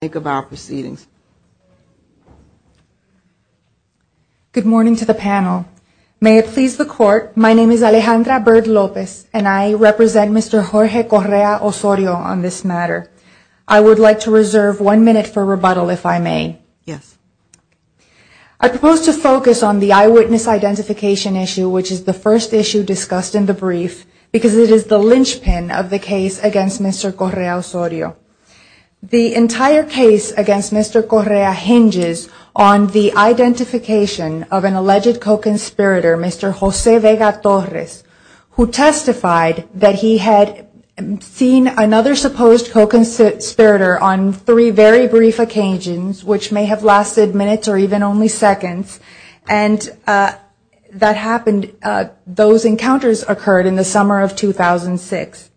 Good morning to the panel. May it please the court, my name is Alejandra Bird Lopez and I represent Mr. Jorge Correa-Osorio on this matter. I would like to reserve one minute for rebuttal if I may. Yes. I propose to focus on the eyewitness identification issue which is the first issue discussed in the brief because it is the linchpin of the case against Mr. Correa-Osorio. The entire case against Mr. Correa hinges on the identification of an alleged co-conspirator, Mr. Jose Vega-Torres, who testified that he had seen another supposed co-conspirator on three very brief occasions which may have lasted minutes or even only seconds and that happened, those encounters occurred in the summer of 2006.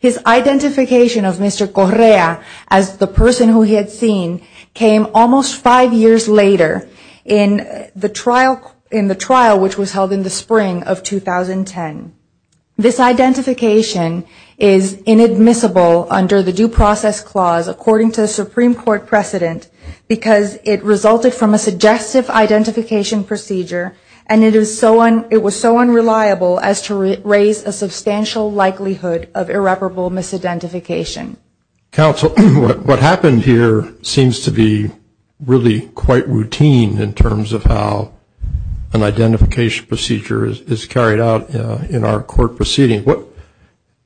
His identification of Mr. Correa as the person who he had seen came almost five years later in the trial which was held in the spring of 2010. This identification is inadmissible under the Due Process Clause according to the Supreme Court precedent because it resulted from a suggestive identification procedure and it was so unreliable as to raise a substantial likelihood of irreparable misidentification. Counsel, what happened here seems to be really quite routine in terms of how an identification procedure is carried out in our court proceeding.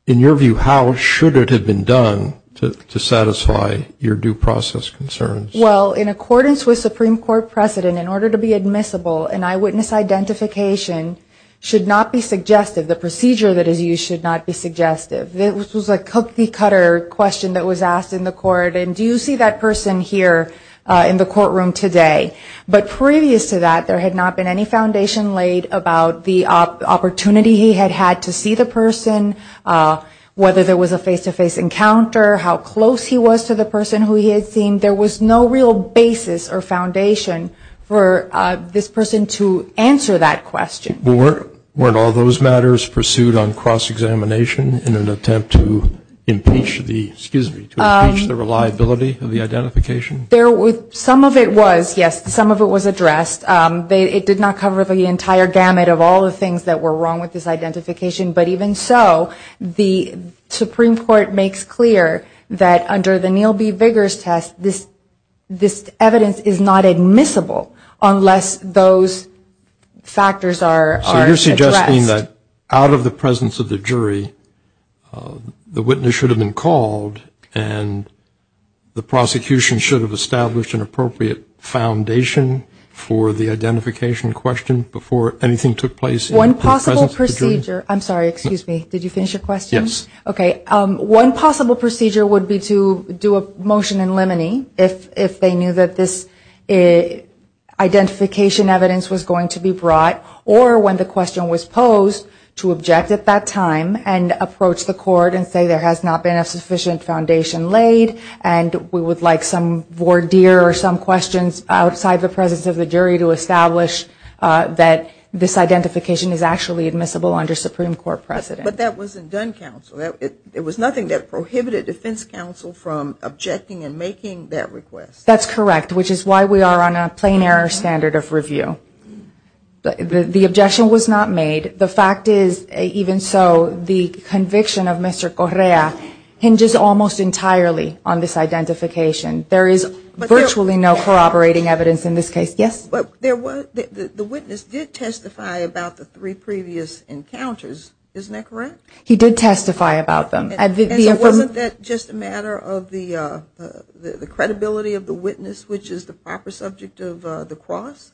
In your view, how should it have been done to satisfy your due process concerns? Well, in accordance with Supreme Court precedent, in order to be admissible, an eyewitness identification should not be suggestive. The procedure that is used should not be suggestive. This was a cookie-cutter question that was asked in the court and do you see that person here in the courtroom today? But previous to that, there had not been any foundation laid about the opportunity he had had to see the person, whether there was a face-to-face encounter, how close he was to the person who he had seen, there was no real basis or foundation for this person to answer that question. Weren't all those matters pursued on cross-examination in an attempt to impeach the reliability of the identification? Some of it was, yes, some of it was addressed. It did not cover the entire gamut of all the things that were wrong with this identification, but even so, the Supreme Court makes clear that under the Neal B. Vigars test, this evidence is not admissible unless those factors are addressed. Out of the presence of the jury, the witness should have been called and the prosecution should have established an appropriate foundation for the identification question before anything took place in the presence of the jury? One possible procedure would be to do a motion in limine, if they knew that this identification evidence was going to be brought, or when the question was posed, to object at that time and approach the court and say there has not been a sufficient foundation laid and we would like some voir dire or some questions outside the presence of the jury to establish that this identification is actually admissible under state law. But that wasn't done, counsel. It was nothing that prohibited defense counsel from objecting and making that request. That's correct, which is why we are on a plain error standard of review. The objection was not made. The fact is, even so, the conviction of Mr. Correa hinges almost entirely on this identification. There is virtually no corroborating evidence in this case. But the witness did testify about the three previous encounters, isn't that correct? He did testify about them. And so wasn't that just a matter of the credibility of the witness, which is the proper subject of the cross?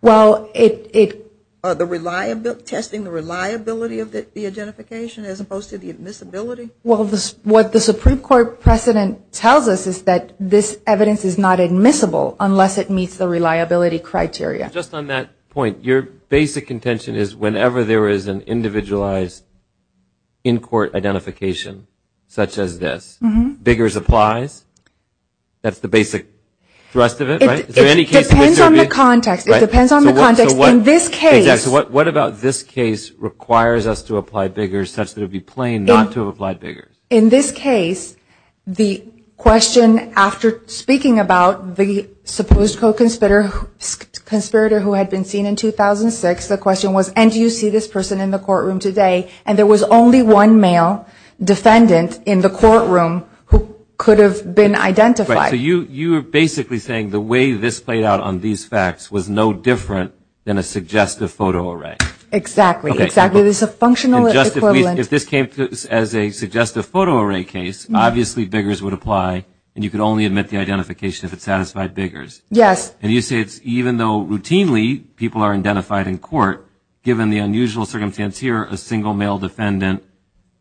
Well, it... Testing the reliability of the identification as opposed to the admissibility? Well, what the Supreme Court precedent tells us is that this evidence is not admissible unless it meets the reliability criteria. Just on that point, your basic contention is whenever there is an individualized in-court identification such as this, Biggers applies? That's the basic thrust of it, right? It depends on the context. It depends on the context in this case. What about this case requires us to apply Biggers such that it would be plain not to apply Biggers? In this case, the question after speaking about the supposed co-conspirator who had been seen in 2006, the question was, and do you see this person in the courtroom today? And there was only one male defendant in the courtroom who could have been identified. So you are basically saying the way this played out on these facts was no different than a suggestive photo array. Exactly. Exactly. This is a functional equivalent. If this came as a suggestive photo array case, obviously Biggers would apply, and you could only admit the identification if it satisfied Biggers. Yes. And you say it's even though routinely people are identified in court, given the unusual circumstance here, a single male defendant,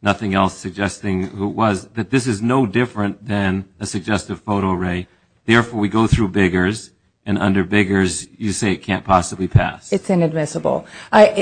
nothing else suggesting who it was, that this is no different than a suggestive photo array. Therefore, we go through Biggers, and under Biggers, you say it can't possibly pass. It's inadmissible.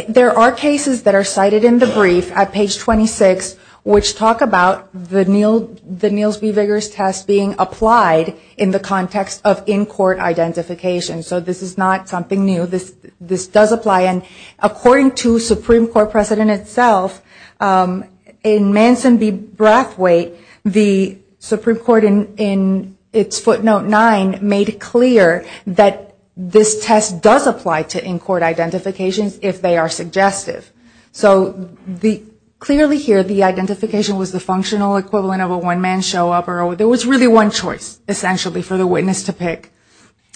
There are cases that are cited in the brief at page 26 which talk about the Niels B. Biggers test being applied in the context of in-court identification. So this is not something new. This does apply. And according to Supreme Court precedent itself, in Manson v. Brathwaite, the Supreme Court in its footnote 9 made it clear that this test does apply to in-court identifications if they are suggestive. So clearly here, the identification was the functional equivalent of a one-man show-up. There was really one choice, essentially, for the witness to pick.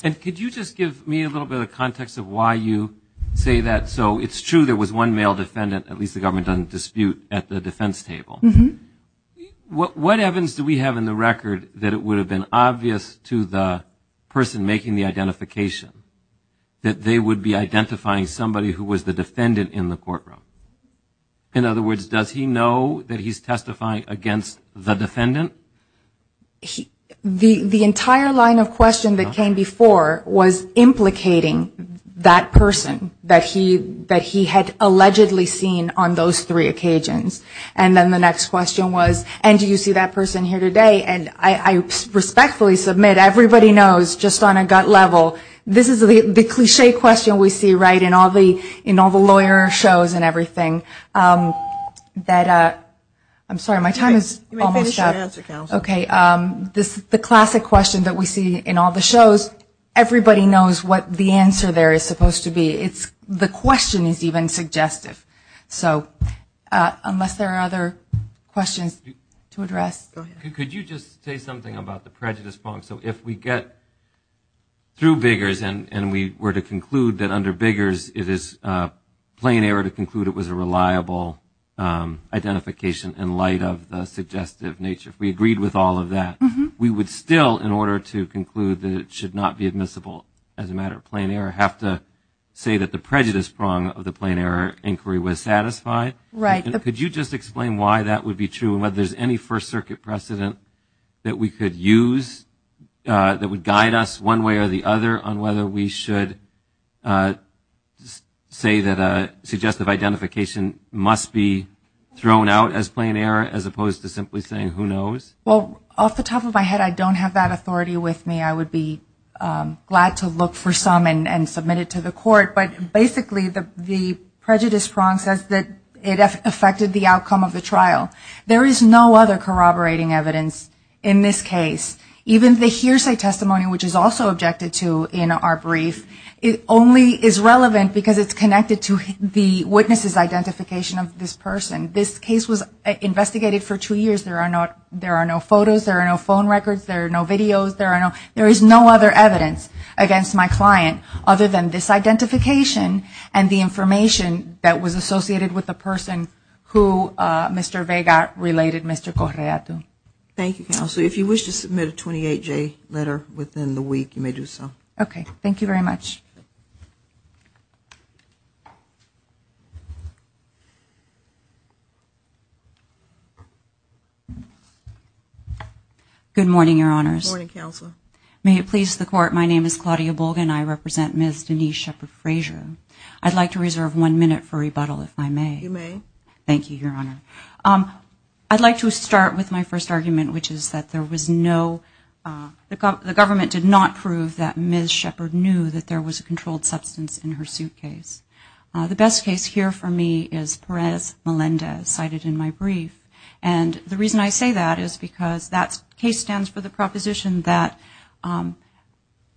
And could you just give me a little bit of context of why you say that? So it's true there was one male defendant, at least the government doesn't dispute, at the defense table. Mm-hmm. What evidence do we have in the record that it would have been obvious to the person making the identification that they would be identifying somebody who was the defendant in the courtroom? In other words, does he know that he's testifying against the defendant? The entire line of question that came before was implicating that person that he had allegedly seen on those three occasions. And then the next question was, and do you see that person here today? And I respectfully submit, everybody knows just on a gut level, this is the cliché question we see, right, in all the lawyer shows and everything. I'm sorry, my time is almost up. You may finish your answer, Counsel. Okay. The classic question that we see in all the shows, everybody knows what the answer there is supposed to be. The question is even suggestive. So unless there are other questions to address. Go ahead. Could you just say something about the prejudice bond? So if we get through Biggers and we were to conclude that under Biggers it is plain error to conclude it was a reliable identification in light of the suggestive nature, if we agreed with all of that, we would still, in order to conclude that it should not be admissible as a matter of plain error, have to say that the prejudice prong of the plain error inquiry was satisfied? Right. Could you just explain why that would be true and whether there's any First Circuit precedent that we could use that would guide us one way or the other on whether we should say that suggestive identification must be thrown out as plain error as opposed to simply saying who knows? Well, off the top of my head, I don't have that authority with me. I would be glad to look for some and submit it to the court. But basically the prejudice prong says that it affected the outcome of the trial. There is no other corroborating evidence in this case. Even the hearsay testimony, which is also objected to in our brief, only is relevant because it's connected to the witness's identification of this person. This case was investigated for two years. There are no photos. There are no phone records. There are no videos. There is no other evidence against my client other than this identification and the information that was associated with the person who Mr. Vega related Mr. Correa to. Thank you, Counselor. If you wish to submit a 28-J letter within the week, you may do so. Okay. Thank you very much. Good morning, Your Honors. Good morning, Counselor. May it please the Court, my name is Claudia Bolgan. I represent Ms. Denise Shepard Frazier. I'd like to reserve one minute for rebuttal, if I may. You may. Thank you, Your Honor. I'd like to start with my first argument, which is that there was no ‑‑ the government did not prove that Ms. Shepard knew that there was a controlled substance in her suitcase. The best case here for me is Perez Melendez cited in my brief. And the reason I say that is because that case stands for the proposition that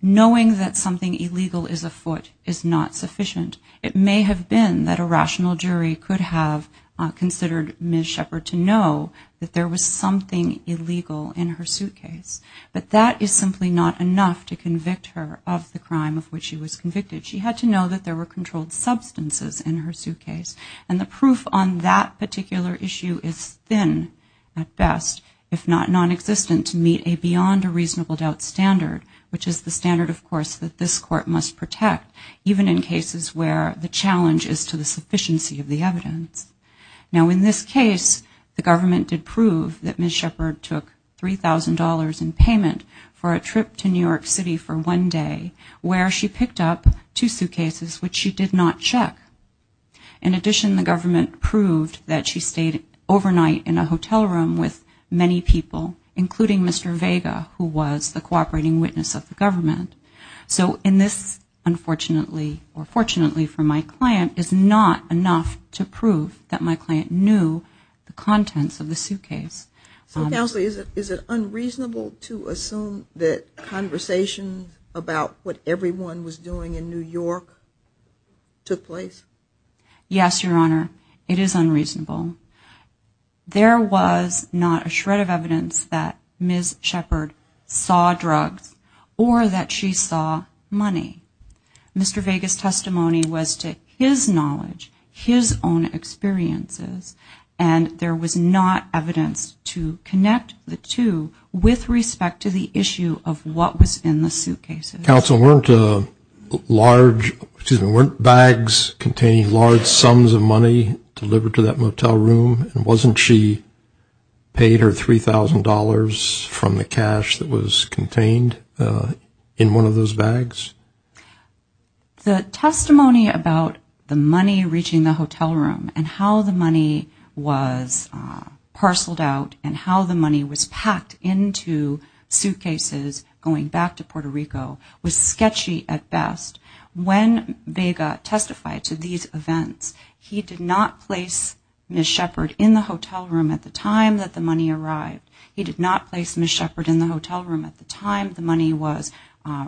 knowing that something illegal is afoot is not sufficient. It may have been that a rational jury could have considered Ms. Shepard to know that there was something illegal in her suitcase. But that is simply not enough to convict her of the crime of which she was convicted. She had to know that there were controlled substances in her suitcase. And the proof on that particular issue is thin at best, if not non‑existent, to meet a beyond a reasonable doubt standard, which is the standard, of course, that this Court must protect, even in cases where the challenge is to the sufficiency of the evidence. Now, in this case, the government did prove that Ms. Shepard took $3,000 in payment for a trip to New York City for one day where she picked up two suitcases which she did not check. In addition, the government proved that she stayed overnight in a hotel room with many people, including Mr. Vega, who was the cooperating witness of the government. So in this, unfortunately, or fortunately for my client, is not enough to prove that my client knew the contents of the suitcase. So, Counsel, is it unreasonable to assume that conversations about what everyone was doing in New York took place? Yes, Your Honor, it is unreasonable. There was not a shred of evidence that Ms. Shepard saw drugs or that she saw money. Mr. Vega's testimony was to his knowledge, his own experiences, and there was not evidence to connect the two with respect to the issue of what was in the suitcases. Counsel, weren't bags containing large sums of money delivered to that motel room, and wasn't she paid her $3,000 from the cash that was contained in one of those bags? The testimony about the money reaching the hotel room and how the money was parceled out and how the money was packed into suitcases going back to Puerto Rico was sketchy at best. When Vega testified to these events, he did not place Ms. Shepard in the hotel room at the time that the money arrived. He did not place Ms. Shepard in the hotel room at the time the money was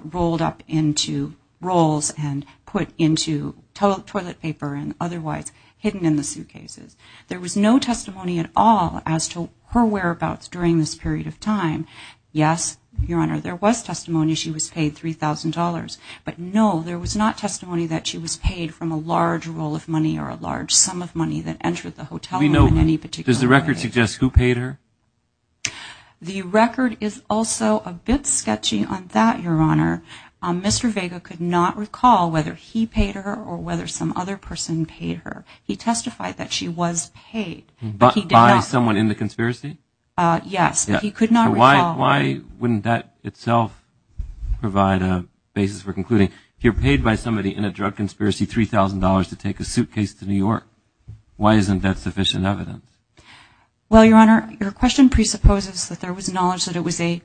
rolled up into rolls and put into toilet paper and otherwise hidden in the suitcases. There was no testimony at all as to her whereabouts during this period of time. Yes, Your Honor, there was testimony she was paid $3,000, but no, there was not testimony that she was paid from a large roll of money or a large sum of money that entered the hotel room in any particular way. Can you suggest who paid her? The record is also a bit sketchy on that, Your Honor. Mr. Vega could not recall whether he paid her or whether some other person paid her. He testified that she was paid. But by someone in the conspiracy? Yes, but he could not recall. Why wouldn't that itself provide a basis for concluding you're paid by somebody in a drug conspiracy $3,000 to take a suitcase to New York? Why isn't that sufficient evidence? Well, Your Honor, your question presupposes that there was knowledge that it was a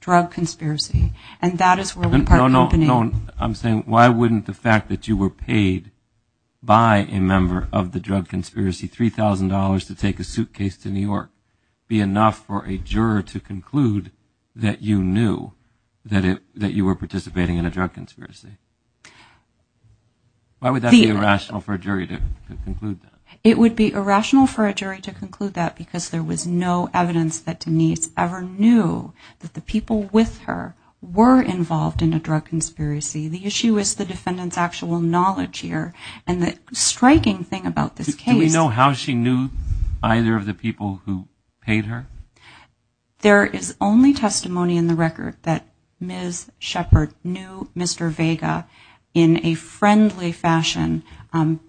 drug conspiracy, and that is where we part company. No, no, I'm saying why wouldn't the fact that you were paid by a member of the drug conspiracy $3,000 to take a suitcase to New York? Why wouldn't it be enough for a juror to conclude that you knew that you were participating in a drug conspiracy? Why would that be irrational for a jury to conclude that? It would be irrational for a jury to conclude that because there was no evidence that Denise ever knew that the people with her were involved in a drug conspiracy. The issue is the defendant's actual knowledge here. And the striking thing about this case... Do we know how she knew either of the people who paid her? There is only testimony in the record that Ms. Shepard knew Mr. Vega in a friendly fashion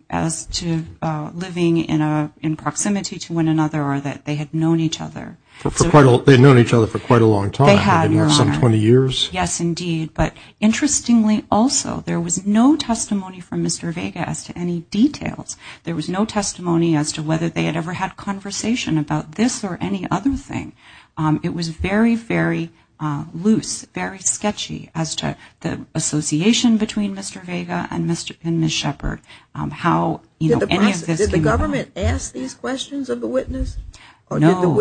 as to living in proximity to one another or that they had known each other. They had known each other for quite a long time. Some 20 years? Yes, indeed, but interestingly also there was no testimony from Mr. Vega as to any details. There was no testimony as to whether they had ever had conversation about this or any other thing. It was very, very loose, very sketchy as to the association between Mr. Vega and Ms. Shepard. Did the government ask these questions of the witness? No.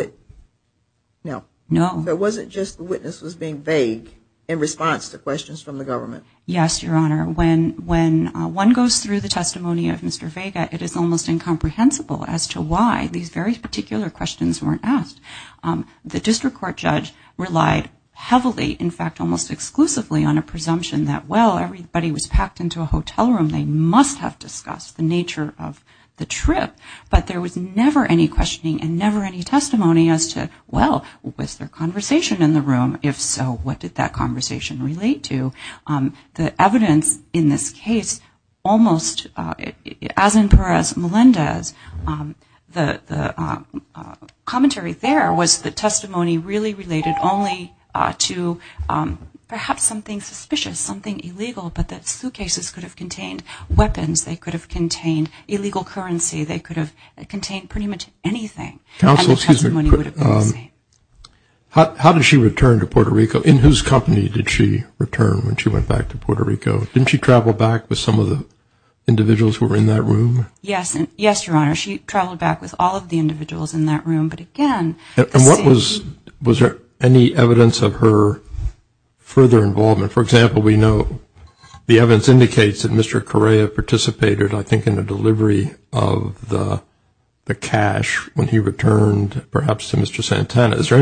It wasn't just the witness was being vague in response to questions from the government? Yes, Your Honor. When one goes through the testimony of Mr. Vega, it is almost incomprehensible as to why these very particular questions weren't asked. The district court judge relied heavily, in fact almost exclusively, on a presumption that, well, everybody was packed into a hotel room, they must have discussed the nature of the trip. But there was never any questioning and never any testimony as to, well, was there conversation in the room? If so, what did that conversation relate to? The evidence in this case almost, as in Perez-Melendez, the commentary there was the testimony really related only to perhaps something suspicious, something illegal, but that suitcases could have contained weapons, they could have contained illegal currency, they could have contained pretty much anything. How did she return to Puerto Rico? In whose company did she return when she went back to Puerto Rico? Didn't she travel back with some of the individuals who were in that room? Yes, Your Honor. She traveled back with all of the individuals in that room. And was there any evidence of her further involvement? For example, we know the evidence indicates that Mr. Correa participated, I think, in the delivery of the cash when he returned perhaps to Mr. Santana. Is there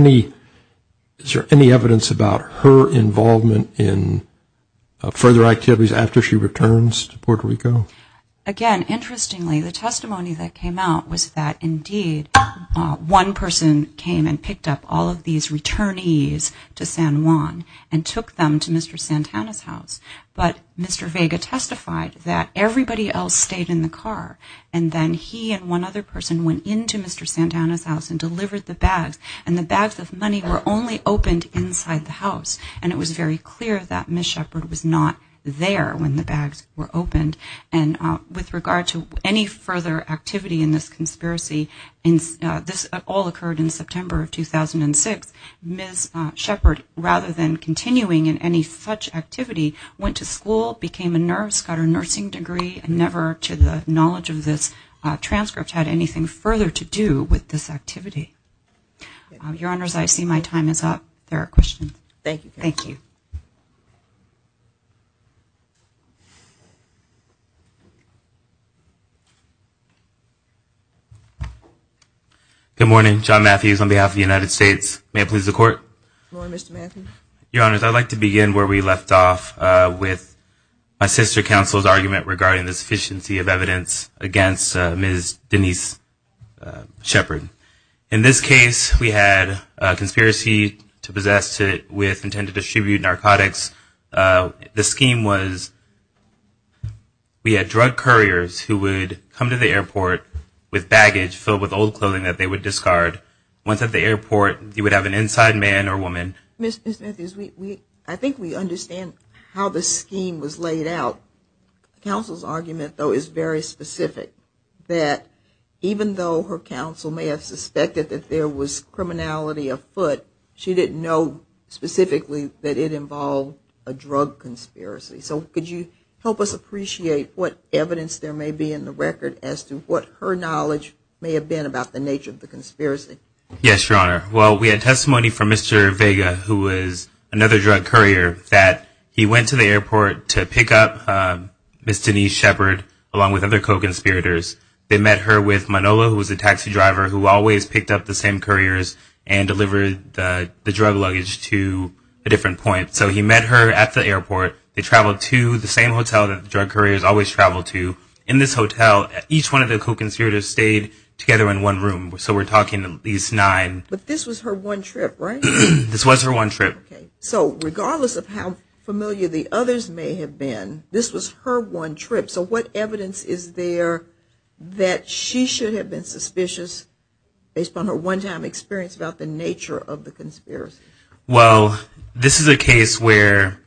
any evidence about her involvement in further activities after she returns to Puerto Rico? Again, interestingly, the testimony that came out was that indeed one person came and picked up all of these returnees to San Juan and took them to Mr. Santana's house. But Mr. Vega testified that everybody else stayed in the car and then he and one other person went into Mr. Santana's house and delivered the bags. And the bags of money were only opened inside the house. And it was very clear that Ms. Shepard was not there when the bags were opened. And with regard to any further activity in this conspiracy, this all occurred in September of 2006. Ms. Shepard, rather than continuing in any such activity, went to school, became a nurse, got her nursing degree. And never to the knowledge of this transcript had anything further to do with this activity. Your Honors, I see my time is up. There are questions. Good morning. John Matthews on behalf of the United States. May I please the Court? Your Honors, I'd like to begin where we left off with my sister counsel's argument regarding the sufficiency of evidence against Ms. Denise Shepard. In this case, we had a conspiracy to possess with intent to distribute narcotics. The scheme was we had drug couriers who would come to the airport with baggage filled with old clothing that they would discard. Once at the airport, you would have an inside man or woman. Ms. Matthews, I think we understand how the scheme was laid out. Counsel's argument, though, is very specific, that even though her counsel may have suspected that there was criminality afoot, she didn't know specifically that it involved a drug conspiracy. So could you help us appreciate what evidence there may be in the record as to what her knowledge may have been about the nature of the conspiracy? Yes, Your Honor. Well, we had testimony from Mr. Vega, who was another drug courier, that he went to the airport to pick up Ms. Denise Shepard along with other co-conspirators. They met her with Manolo, who was a taxi driver who always picked up the same couriers and delivered the drug luggage to a different point. So he met her at the airport. They traveled to the same hotel that the drug couriers always travel to. In this hotel, each one of the co-conspirators stayed together in one room. So we're talking at least nine. But this was her one trip, right? This was her one trip. So regardless of how familiar the others may have been, this was her one trip. So what evidence is there that she should have been suspicious based on her one-time experience about the nature of the conspiracy? Well, this is a case where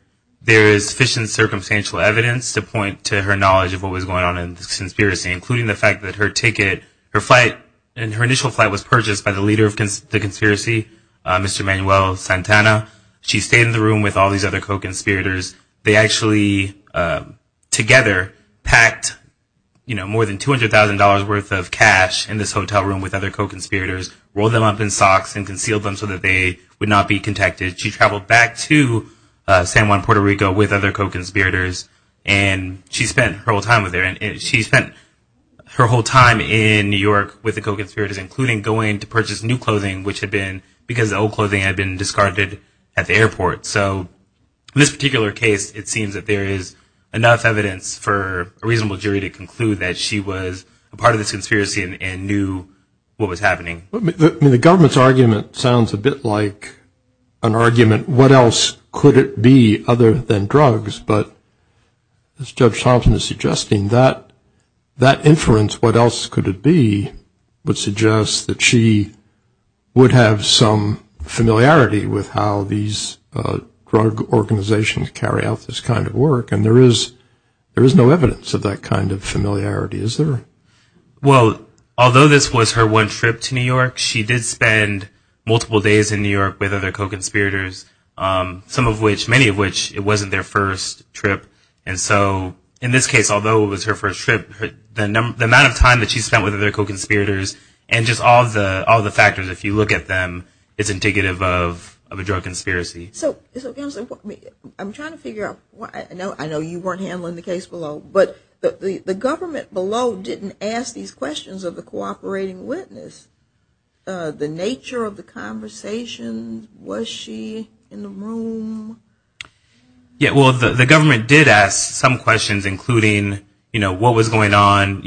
there is sufficient circumstantial evidence to point to her knowledge of what was going on in the conspiracy, including the fact that her ticket, her flight, and her initial flight was purchased by the leader of the conspiracy, Mr. Manuel Santana. She stayed in the room with all these other co-conspirators. They actually together packed more than $200,000 worth of cash in this hotel room with other co-conspirators, rolled them up in socks and concealed them so that they would not be contacted. She traveled back to San Juan, Puerto Rico with other co-conspirators, and she spent her whole time there. She spent her whole time in New York with the co-conspirators, including going to purchase new clothing, which had been because the old clothing had been discarded at the airport. So in this particular case, it seems that there is enough evidence for a reasonable jury to conclude that she was a part of this conspiracy and knew what was happening. I mean, the government's argument sounds a bit like an argument, what else could it be other than drugs? But as Judge Thompson is suggesting, that inference, what else could it be, that would suggest that she would have some familiarity with how these drug organizations carry out this kind of work? And there is no evidence of that kind of familiarity, is there? Well, although this was her one trip to New York, she did spend multiple days in New York with other co-conspirators, some of which, many of which, it wasn't their first trip. And so in this case, although it was her first trip, the amount of time that she spent with other co-conspirators, and just all the factors, if you look at them, it's indicative of a drug conspiracy. So I'm trying to figure out, I know you weren't handling the case below, but the government below didn't ask these questions of the cooperating witness. The nature of the conversation, was she in the room? Yeah, well, the government did ask some questions, including what was going on.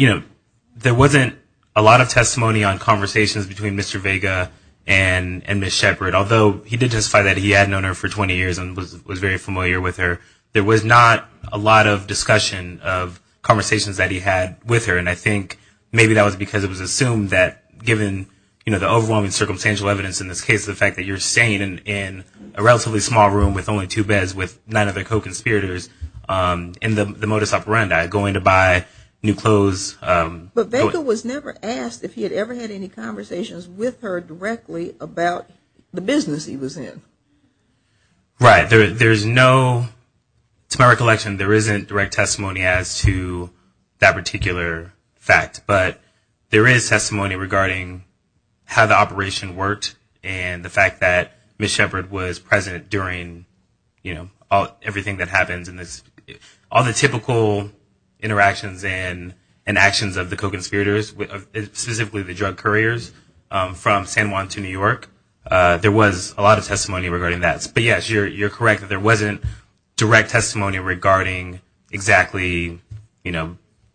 There wasn't a lot of testimony on conversations between Mr. Vega and Ms. Shepard, although he did testify that he had known her for 20 years and was very familiar with her. There was not a lot of discussion of conversations that he had with her, and I think maybe that was because it was assumed that given the overwhelming circumstantial evidence in this case, the fact that you're staying in a relatively small room with only two beds with none of the co-conspirators in the modus operandi, going to buy new clothes. But Vega was never asked if he had ever had any conversations with her directly about the business he was in. Right. There's no, to my recollection, there isn't direct testimony as to that particular fact, but there is testimony regarding how the operation worked and the fact that Ms. Shepard was present during everything that happens in this. All the typical interactions and actions of the co-conspirators, specifically the drug couriers from San Juan to New York, there was a lot of testimony regarding that. But yes, you're correct, there wasn't direct testimony regarding exactly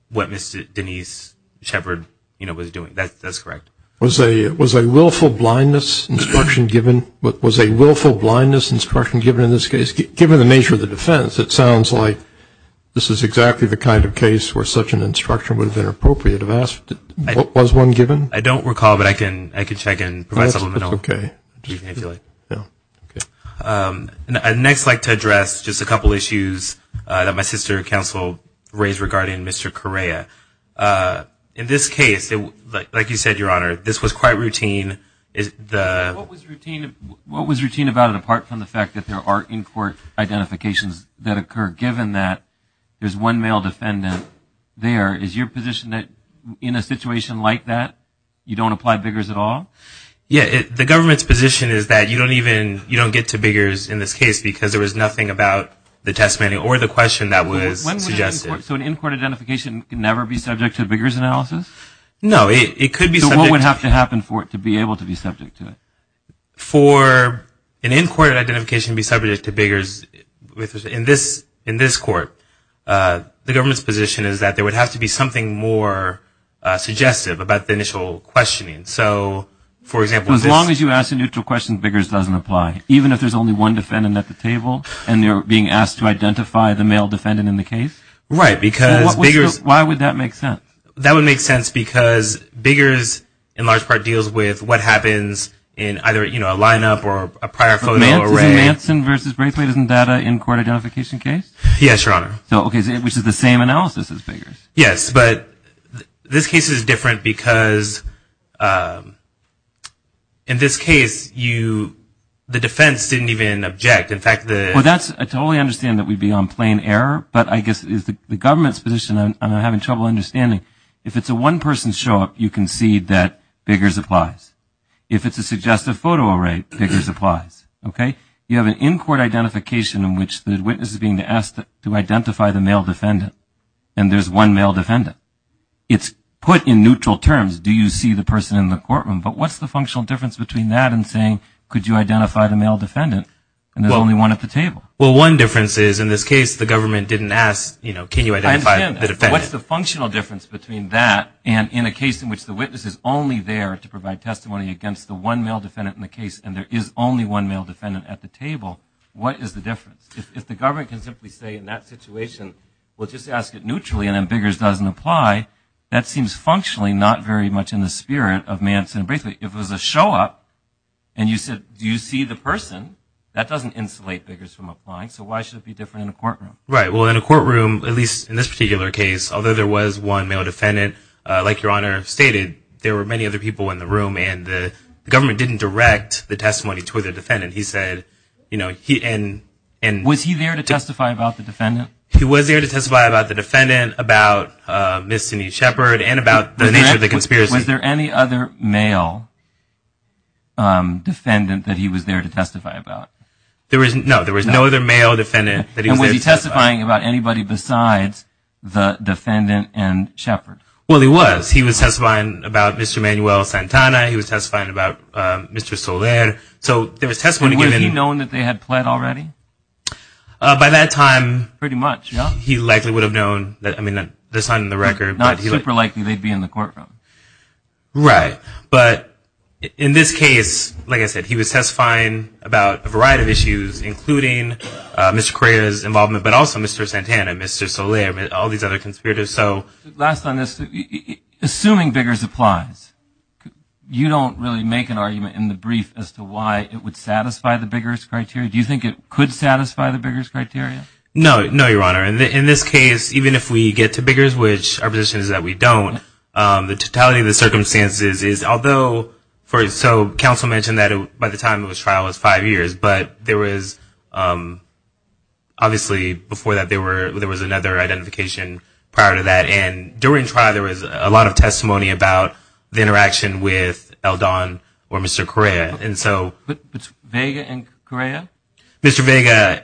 what Ms. Denise Shepard was doing. That's correct. Was a willful blindness instruction given in this case? Given the nature of the defense, it sounds like this is exactly the kind of case where such an instruction would have been appropriate. I don't recall, but I can check and provide some information. I'd next like to address just a couple issues that my sister counsel raised regarding Mr. Correa. In this case, like you said, Your Honor, this was quite routine. What was routine about it, apart from the fact that there are in-court identifications that occur, given that there's one male defendant there? Is your position that in a situation like that, you don't apply biggers at all? The government's position is that you don't get to biggers in this case because there was nothing about the testimony or the question that was suggested. So an in-court identification can never be subject to a biggers analysis? No, it could be subject to it. So what would have to happen for it to be able to be subject to it? For an in-court identification to be subject to biggers in this court, the government's position is that there would have to be something more suggestive about the initial questioning. As long as you ask a neutral question, biggers doesn't apply, even if there's only one defendant at the table and you're being asked to identify the male defendant in the case? Right. Why would that make sense? That would make sense because biggers in large part deals with what happens in either a lineup or a prior photo array. Is it Manson v. Braithwaite as in data in court identification case? Yes, Your Honor. Which is the same analysis as biggers. Yes, but this case is different because in this case, the defense didn't even object. Well, I totally understand that we'd be on plain error, but I guess the government's position, and I'm having trouble understanding, if it's a one-person show-up, you concede that biggers applies. If it's a suggestive photo array, biggers applies. You have an in-court identification in which the witness is being asked to identify the male defendant and there's one male defendant. It's put in neutral terms. Do you see the person in the courtroom? But what's the functional difference between that and saying could you identify the male defendant and there's only one at the table? Well, one difference is in this case the government didn't ask, you know, can you identify the defendant? I understand that. What's the functional difference between that and in a case in which the witness is only there to provide testimony against the one male defendant in the case and there is only one male defendant at the table? What is the difference? If the government can simply say in that situation, well, just ask it neutrally and then biggers doesn't apply, that seems functionally not very much in the spirit of Manson. Basically, if it was a show-up and you said, do you see the person, that doesn't insulate biggers from applying, so why should it be different in a courtroom? Right. Well, in a courtroom, at least in this particular case, although there was one male defendant, like Your Honor stated, there were many other people in the room and the government didn't direct the testimony toward the defendant. Was he there to testify about the defendant? He was there to testify about the defendant, about Ms. Cindy Shepard and about the nature of the conspiracy. Was there any other male defendant that he was there to testify about? No, there was no other male defendant that he was there to testify about. And was he testifying about anybody besides the defendant and Shepard? Well, he was. He was testifying about Mr. Manuel Santana. He was testifying about Mr. Soler. So there was testimony given. And was he known that they had pled already? By that time, he likely would have known. I mean, that's not in the record. Not super likely they'd be in the courtroom. Right. But in this case, like I said, he was testifying about a variety of issues, including Mr. Correa's involvement, but also Mr. Santana, Mr. Soler, all these other conspirators. Last on this, assuming Biggers applies, you don't really make an argument in the brief as to why it would satisfy the Biggers criteria? Do you think it could satisfy the Biggers criteria? No, Your Honor. In this case, even if we get to Biggers, which our position is that we don't, the totality of the circumstances is, although, so counsel mentioned that by the time of his trial it was five years, but there was obviously before that there was another identification prior to that. And during trial there was a lot of testimony about the interaction with Eldon or Mr. Correa. But Vega and Correa? Mr. Vega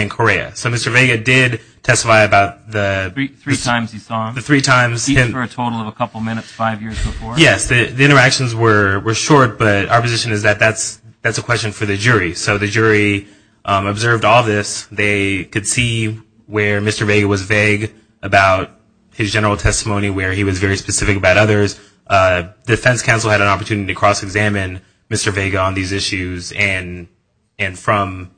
and Correa. So Mr. Vega did testify about the – Three times he saw him. The three times. Even for a total of a couple minutes five years before. Yes, the interactions were short, but our position is that that's a question for the jury. So the jury observed all this. They could see where Mr. Vega was vague about his general testimony, where he was very specific about others. The defense counsel had an opportunity to cross-examine Mr. Vega on these issues and from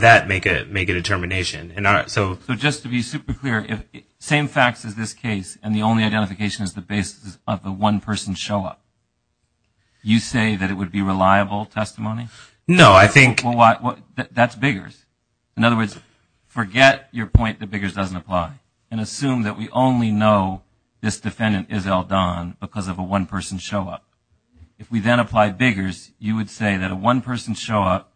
that make a determination. So just to be super clear, same facts as this case, and the only identification is the basis of the one-person show-up. You say that it would be reliable testimony? No, I think – That's Biggers. In other words, forget your point that Biggers doesn't apply and assume that we only know this defendant is Eldon because of a one-person show-up. If we then apply Biggers, you would say that a one-person show-up,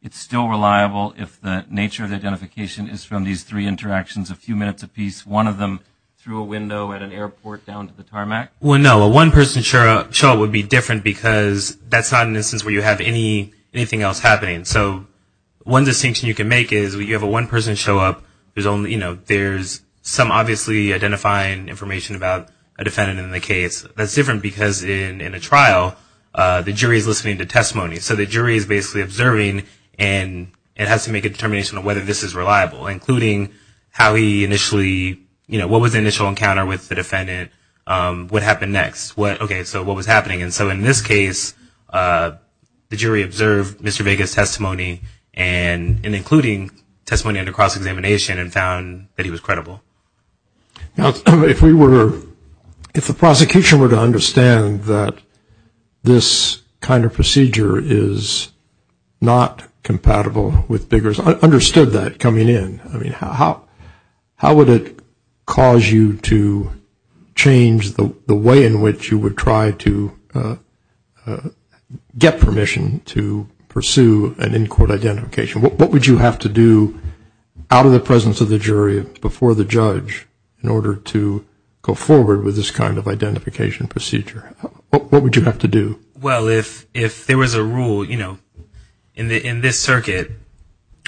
it's still reliable if the nature of the identification is from these three interactions, a few minutes apiece, one of them through a window at an airport down to the tarmac? Well, no. A one-person show-up would be different because that's not an instance where you have anything else happening. So one distinction you can make is when you have a one-person show-up, there's some obviously identifying information about a defendant in the case. That's different because in a trial, the jury is listening to testimony. So the jury is basically observing, and it has to make a determination of whether this is reliable, including how he initially – what was the initial encounter with the defendant? What happened next? Okay, so what was happening? And so in this case, the jury observed Mr. Biggers' testimony and including testimony under cross-examination and found that he was credible. Now, if we were – if the prosecution were to understand that this kind of procedure is not compatible with Biggers, I understood that coming in. I mean, how would it cause you to change the way in which you would try to get permission to pursue an in-court identification? What would you have to do out of the presence of the jury before the judge in order to go forward with this kind of identification procedure? What would you have to do? Well, if there was a rule, you know, in this circuit,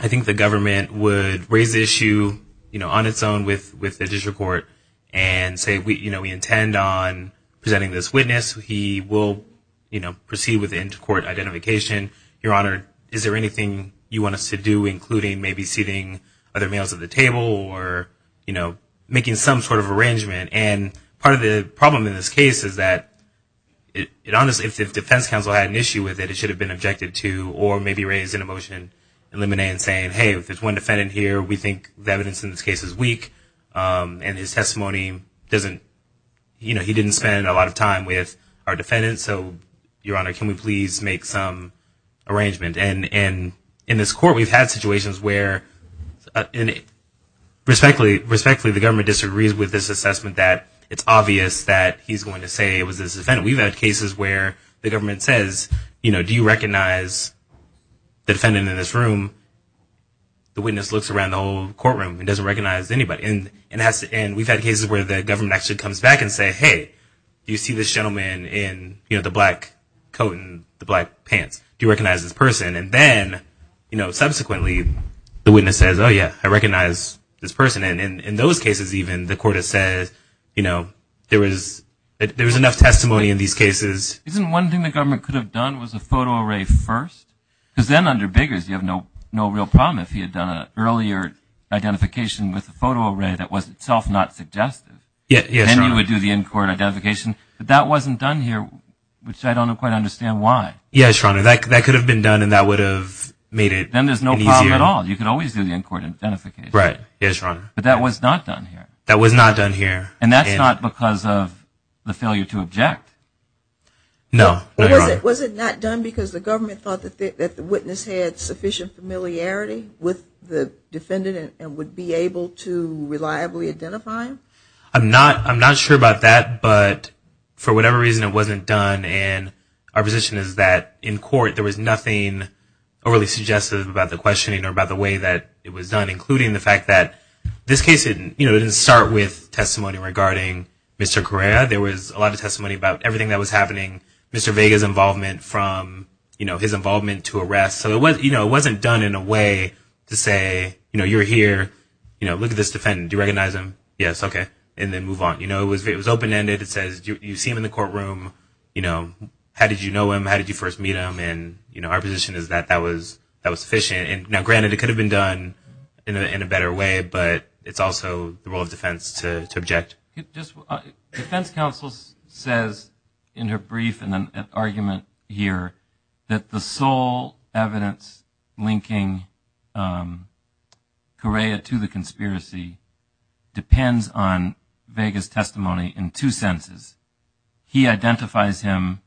I think the government would raise the issue on its own with the district court and say, you know, we intend on presenting this witness. He will, you know, proceed with the in-court identification. Your Honor, is there anything you want us to do, including maybe seating other males at the table or, you know, making some sort of arrangement? And part of the problem in this case is that it honestly – if the defense counsel had an issue with it, it should have been objected to or maybe raised in a motion in limine and saying, hey, if there's one defendant here, we think the evidence in this case is weak and his testimony doesn't – you know, he didn't spend a lot of time with our defendants. So, Your Honor, can we please make some arrangement? And in this court, we've had situations where respectfully the government disagrees with this assessment that it's obvious that he's going to say it was this defendant. We've had cases where the government says, you know, do you recognize the defendant in this room? The witness looks around the whole courtroom and doesn't recognize anybody. And we've had cases where the government actually comes back and say, hey, do you see this gentleman in, you know, the black coat and the black pants? Do you recognize this person? And then, you know, subsequently, the witness says, oh, yeah, I recognize this person. And in those cases even, the court has said, you know, there was enough testimony in these cases. Isn't one thing the government could have done was a photo array first? Because then under Biggers, you have no real problem if he had done an earlier identification with a photo array that was itself not suggestive. Yes, Your Honor. And then you would do the in-court identification. But that wasn't done here, which I don't quite understand why. Yes, Your Honor. That could have been done and that would have made it easier. Then there's no problem at all. You could always do the in-court identification. Right. Yes, Your Honor. But that was not done here. That was not done here. And that's not because of the failure to object. No. Was it not done because the government thought that the witness had sufficient familiarity with the defendant and would be able to reliably identify him? I'm not sure about that. But for whatever reason, it wasn't done. And our position is that in court there was nothing overly suggestive about the questioning or about the way that it was done, including the fact that this case didn't start with testimony regarding Mr. Correa. There was a lot of testimony about everything that was happening, Mr. Vega's involvement from, you know, his involvement to arrest. So, you know, it wasn't done in a way to say, you know, you're here, you know, look at this defendant. Do you recognize him? Yes. Okay. And then move on. You know, it was open-ended. It says you see him in the courtroom. You know, how did you know him? How did you first meet him? And, you know, our position is that that was sufficient. Now, granted, it could have been done in a better way, but it's also the role of defense to object. Defense counsel says in her brief in an argument here that the sole evidence linking Correa to the conspiracy depends on Vega's testimony in two senses. He identifies him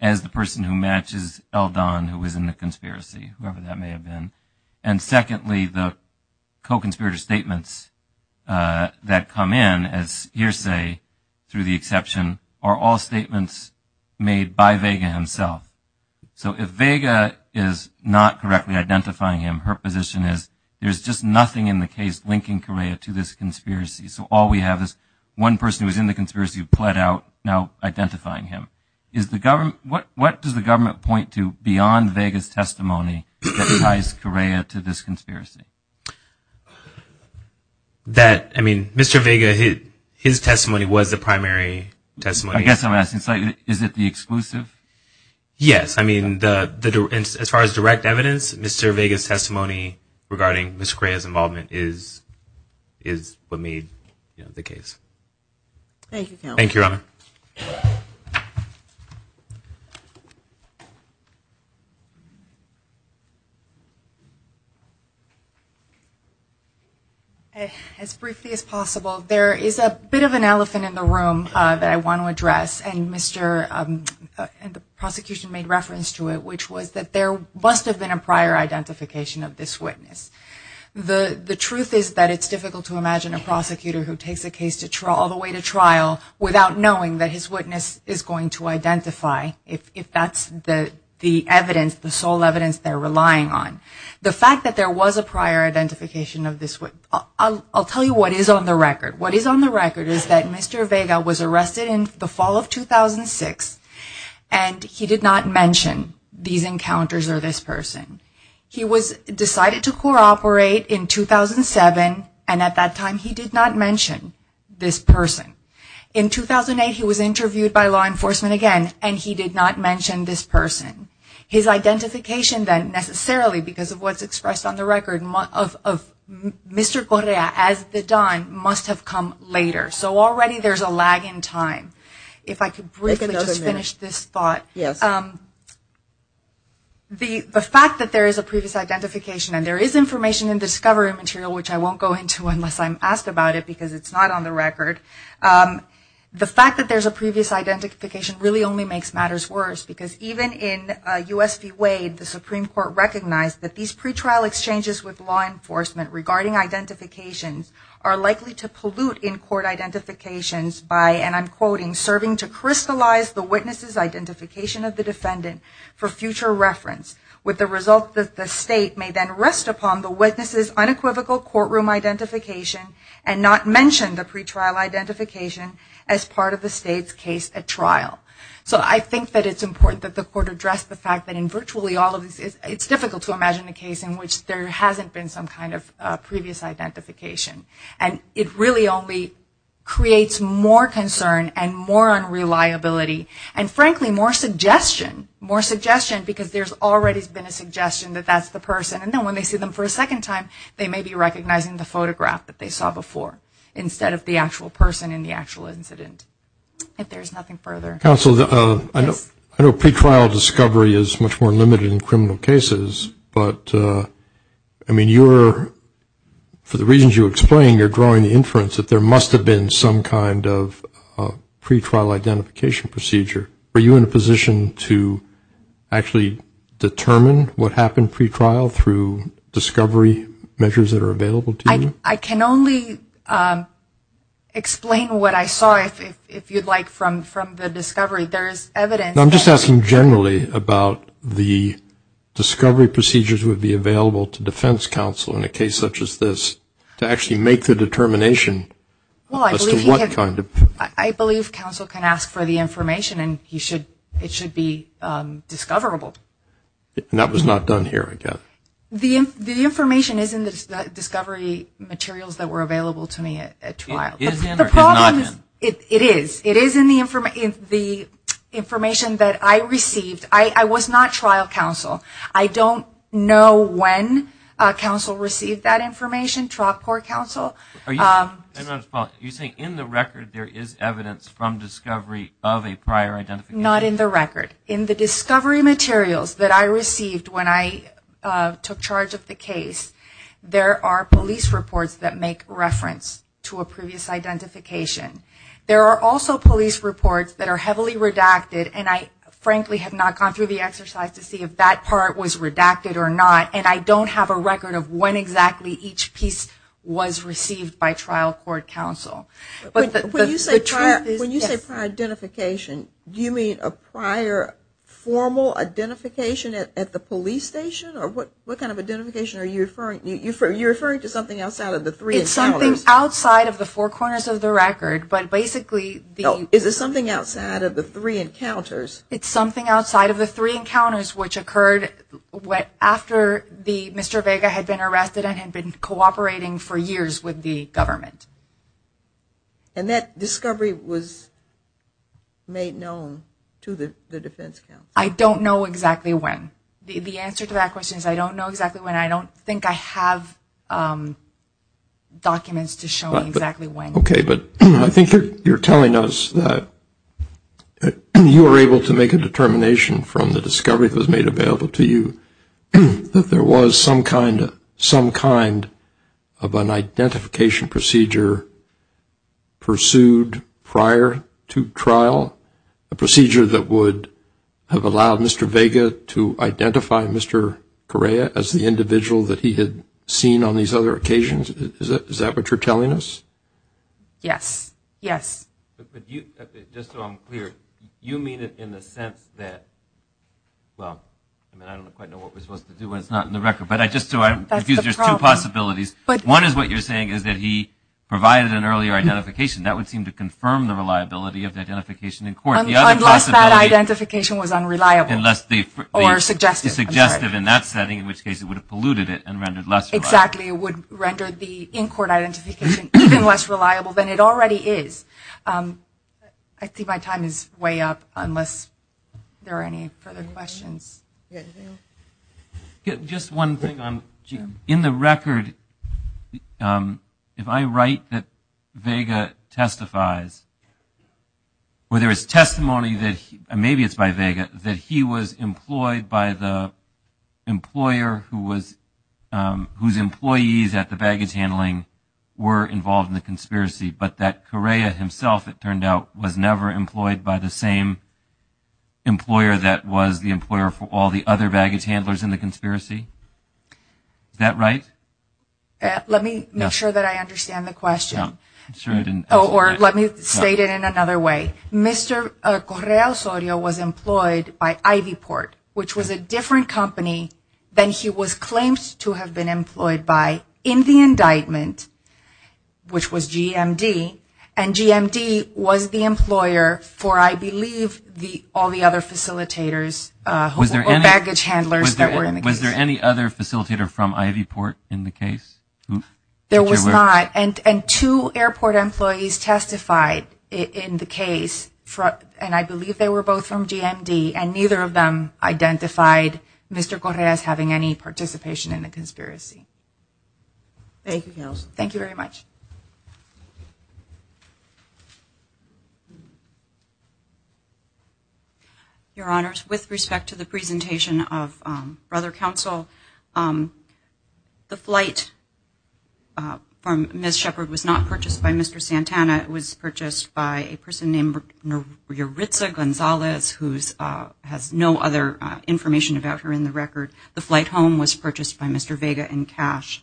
as the person who matches Eldon, who was in the conspiracy, whoever that may have been. And secondly, the co-conspirator statements that come in as hearsay, through the exception, are all statements made by Vega himself. So if Vega is not correctly identifying him, her position is there's just nothing in the case linking Correa to this conspiracy. So all we have is one person who was in the conspiracy who pled out now identifying him. What does the government point to beyond Vega's testimony that ties Correa to this conspiracy? That, I mean, Mr. Vega, his testimony was the primary testimony. I guess I'm asking, is it the exclusive? Yes. I mean, as far as direct evidence, Mr. Vega's testimony regarding Ms. Correa's involvement is what made the case. Thank you, Counsel. Thank you, Your Honor. As briefly as possible, there is a bit of an elephant in the room that I want to address, and the prosecution made reference to it, which was that there must have been a prior identification of this witness. The truth is that it's difficult to imagine a prosecutor who takes a case all the way to trial without knowing that his witness is going to identify, if that's the evidence, the sole evidence they're relying on. The fact that there was a prior identification of this witness, I'll tell you what is on the record. What is on the record is that Mr. Vega was arrested in the fall of 2006, and he did not mention these encounters or this person. He was decided to cooperate in 2007, and at that time he did not mention this person. In 2008, he was interviewed by law enforcement again, and he did not mention this person. His identification then necessarily, because of what's expressed on the record, of Mr. Correa as the Don must have come later. So already there's a lag in time. If I could briefly just finish this thought. Yes. The fact that there is a previous identification, and there is information in the discovery material, which I won't go into unless I'm asked about it, because it's not on the record. The fact that there's a previous identification really only makes matters worse, because even in U.S. v. Wade, the Supreme Court recognized that these pretrial exchanges with law enforcement regarding identifications are likely to pollute in-court identifications by, and I'm quoting, serving to crystallize the witness's identification of the defendant for future reference, with the result that the State may then rest upon the witness's unequivocal courtroom identification and not mention the pretrial identification as part of the State's case at trial. So I think that it's important that the Court address the fact that in virtually all of these, it's difficult to imagine a case in which there hasn't been some kind of previous identification. And it really only creates more concern and more unreliability and, frankly, more suggestion, more suggestion because there's already been a suggestion that that's the person, and then when they see them for a second time, they may be recognizing the photograph that they saw before instead of the actual person in the actual incident, if there's nothing further. Counsel, I know pretrial discovery is much more limited in criminal cases, but, I mean, you are, for the reasons you're explaining, you're drawing the inference that there must have been some kind of pretrial identification procedure. Are you in a position to actually determine what happened pretrial through discovery measures that are available to you? I can only explain what I saw, if you'd like, from the discovery. There is evidence. I'm just asking generally about the discovery procedures would be available to defense counsel in a case such as this to actually make the determination as to what kind of. Well, I believe counsel can ask for the information, and it should be discoverable. And that was not done here, I guess. The information is in the discovery materials that were available to me at trial. It is in or has not been? It is. It is in the information that I received. I was not trial counsel. I don't know when counsel received that information, trial court counsel. You're saying in the record there is evidence from discovery of a prior identification? Not in the record. In the discovery materials that I received when I took charge of the case, there are police reports that make reference to a previous identification. There are also police reports that are heavily redacted, and I frankly have not gone through the exercise to see if that part was redacted or not, and I don't have a record of when exactly each piece was received by trial court counsel. When you say prior identification, do you mean a prior formal identification at the police station? What kind of identification are you referring to? You're referring to something outside of the three encounters? It's something outside of the four corners of the record, but basically the... Is it something outside of the three encounters? It's something outside of the three encounters which occurred after Mr. Vega had been arrested and had been cooperating for years with the government. And that discovery was made known to the defense counsel? I don't know exactly when. The answer to that question is I don't know exactly when. I don't think I have documents to show me exactly when. Okay, but I think you're telling us that you were able to make a determination from the discovery that was made available to you that there was some kind of an identification procedure pursued prior to trial, a procedure that would have allowed Mr. Vega to identify Mr. Correa as the individual that he had seen on these other occasions? Is that what you're telling us? Yes. Yes. Just so I'm clear, you mean it in the sense that, well, I don't quite know what we're supposed to do when it's not in the record, but just so I'm clear, there's two possibilities. One is what you're saying is that he provided an earlier identification. That would seem to confirm the reliability of the identification in court. Unless that identification was unreliable or suggestive. Or suggestive in that setting, in which case it would have polluted it and rendered less reliable. Exactly. It would render the in-court identification even less reliable than it already is. I think my time is way up unless there are any further questions. Just one thing. In the record, if I write that Vega testifies, whether it's testimony, maybe it's by Vega, that he was employed by the employer whose employees at the baggage handling were involved in the conspiracy, but that Correa himself, it turned out, was never employed by the same employer that was the employer for all the other baggage handlers in the conspiracy. Is that right? Let me make sure that I understand the question. Or let me state it in another way. Mr. Correa Osorio was employed by Ivy Port, which was a different company than he was claimed to have been employed by in the indictment, which was GMD, and GMD was the employer for, I believe, all the other facilitators or baggage handlers that were in the case. Was there any other facilitator from Ivy Port in the case? There was not. And two airport employees testified in the case, and I believe they were both from GMD, and neither of them identified Mr. Correa as having any participation in the conspiracy. Thank you, Counsel. Thank you very much. Your Honors, with respect to the presentation of Brother Counsel, the flight from Ms. Shepherd was not purchased by Mr. Santana. It was purchased by a person named Maritza Gonzalez, who has no other information about her in the record. The flight home was purchased by Mr. Vega in cash.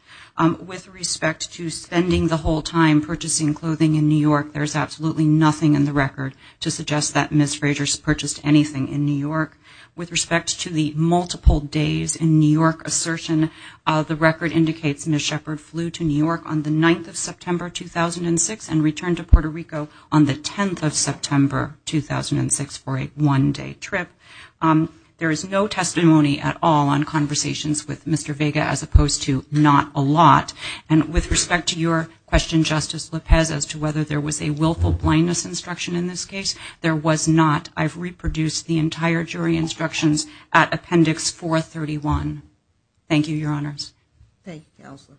With respect to spending the whole time purchasing clothing in New York, there is absolutely nothing in the record to suggest that Ms. Frazier purchased anything in New York. With respect to the multiple days in New York assertion, the record indicates Ms. Shepherd flew to New York on the 9th of September, 2006, and returned to Puerto Rico on the 10th of September, 2006, for a one-day trip. There is no testimony at all on conversations with Mr. Vega, as opposed to not a lot. And with respect to your question, Justice Lopez, as to whether there was a willful blindness instruction in this case, there was not. I've reproduced the entire jury instructions at Appendix 431. Thank you, Your Honors. Thank you, Counselor.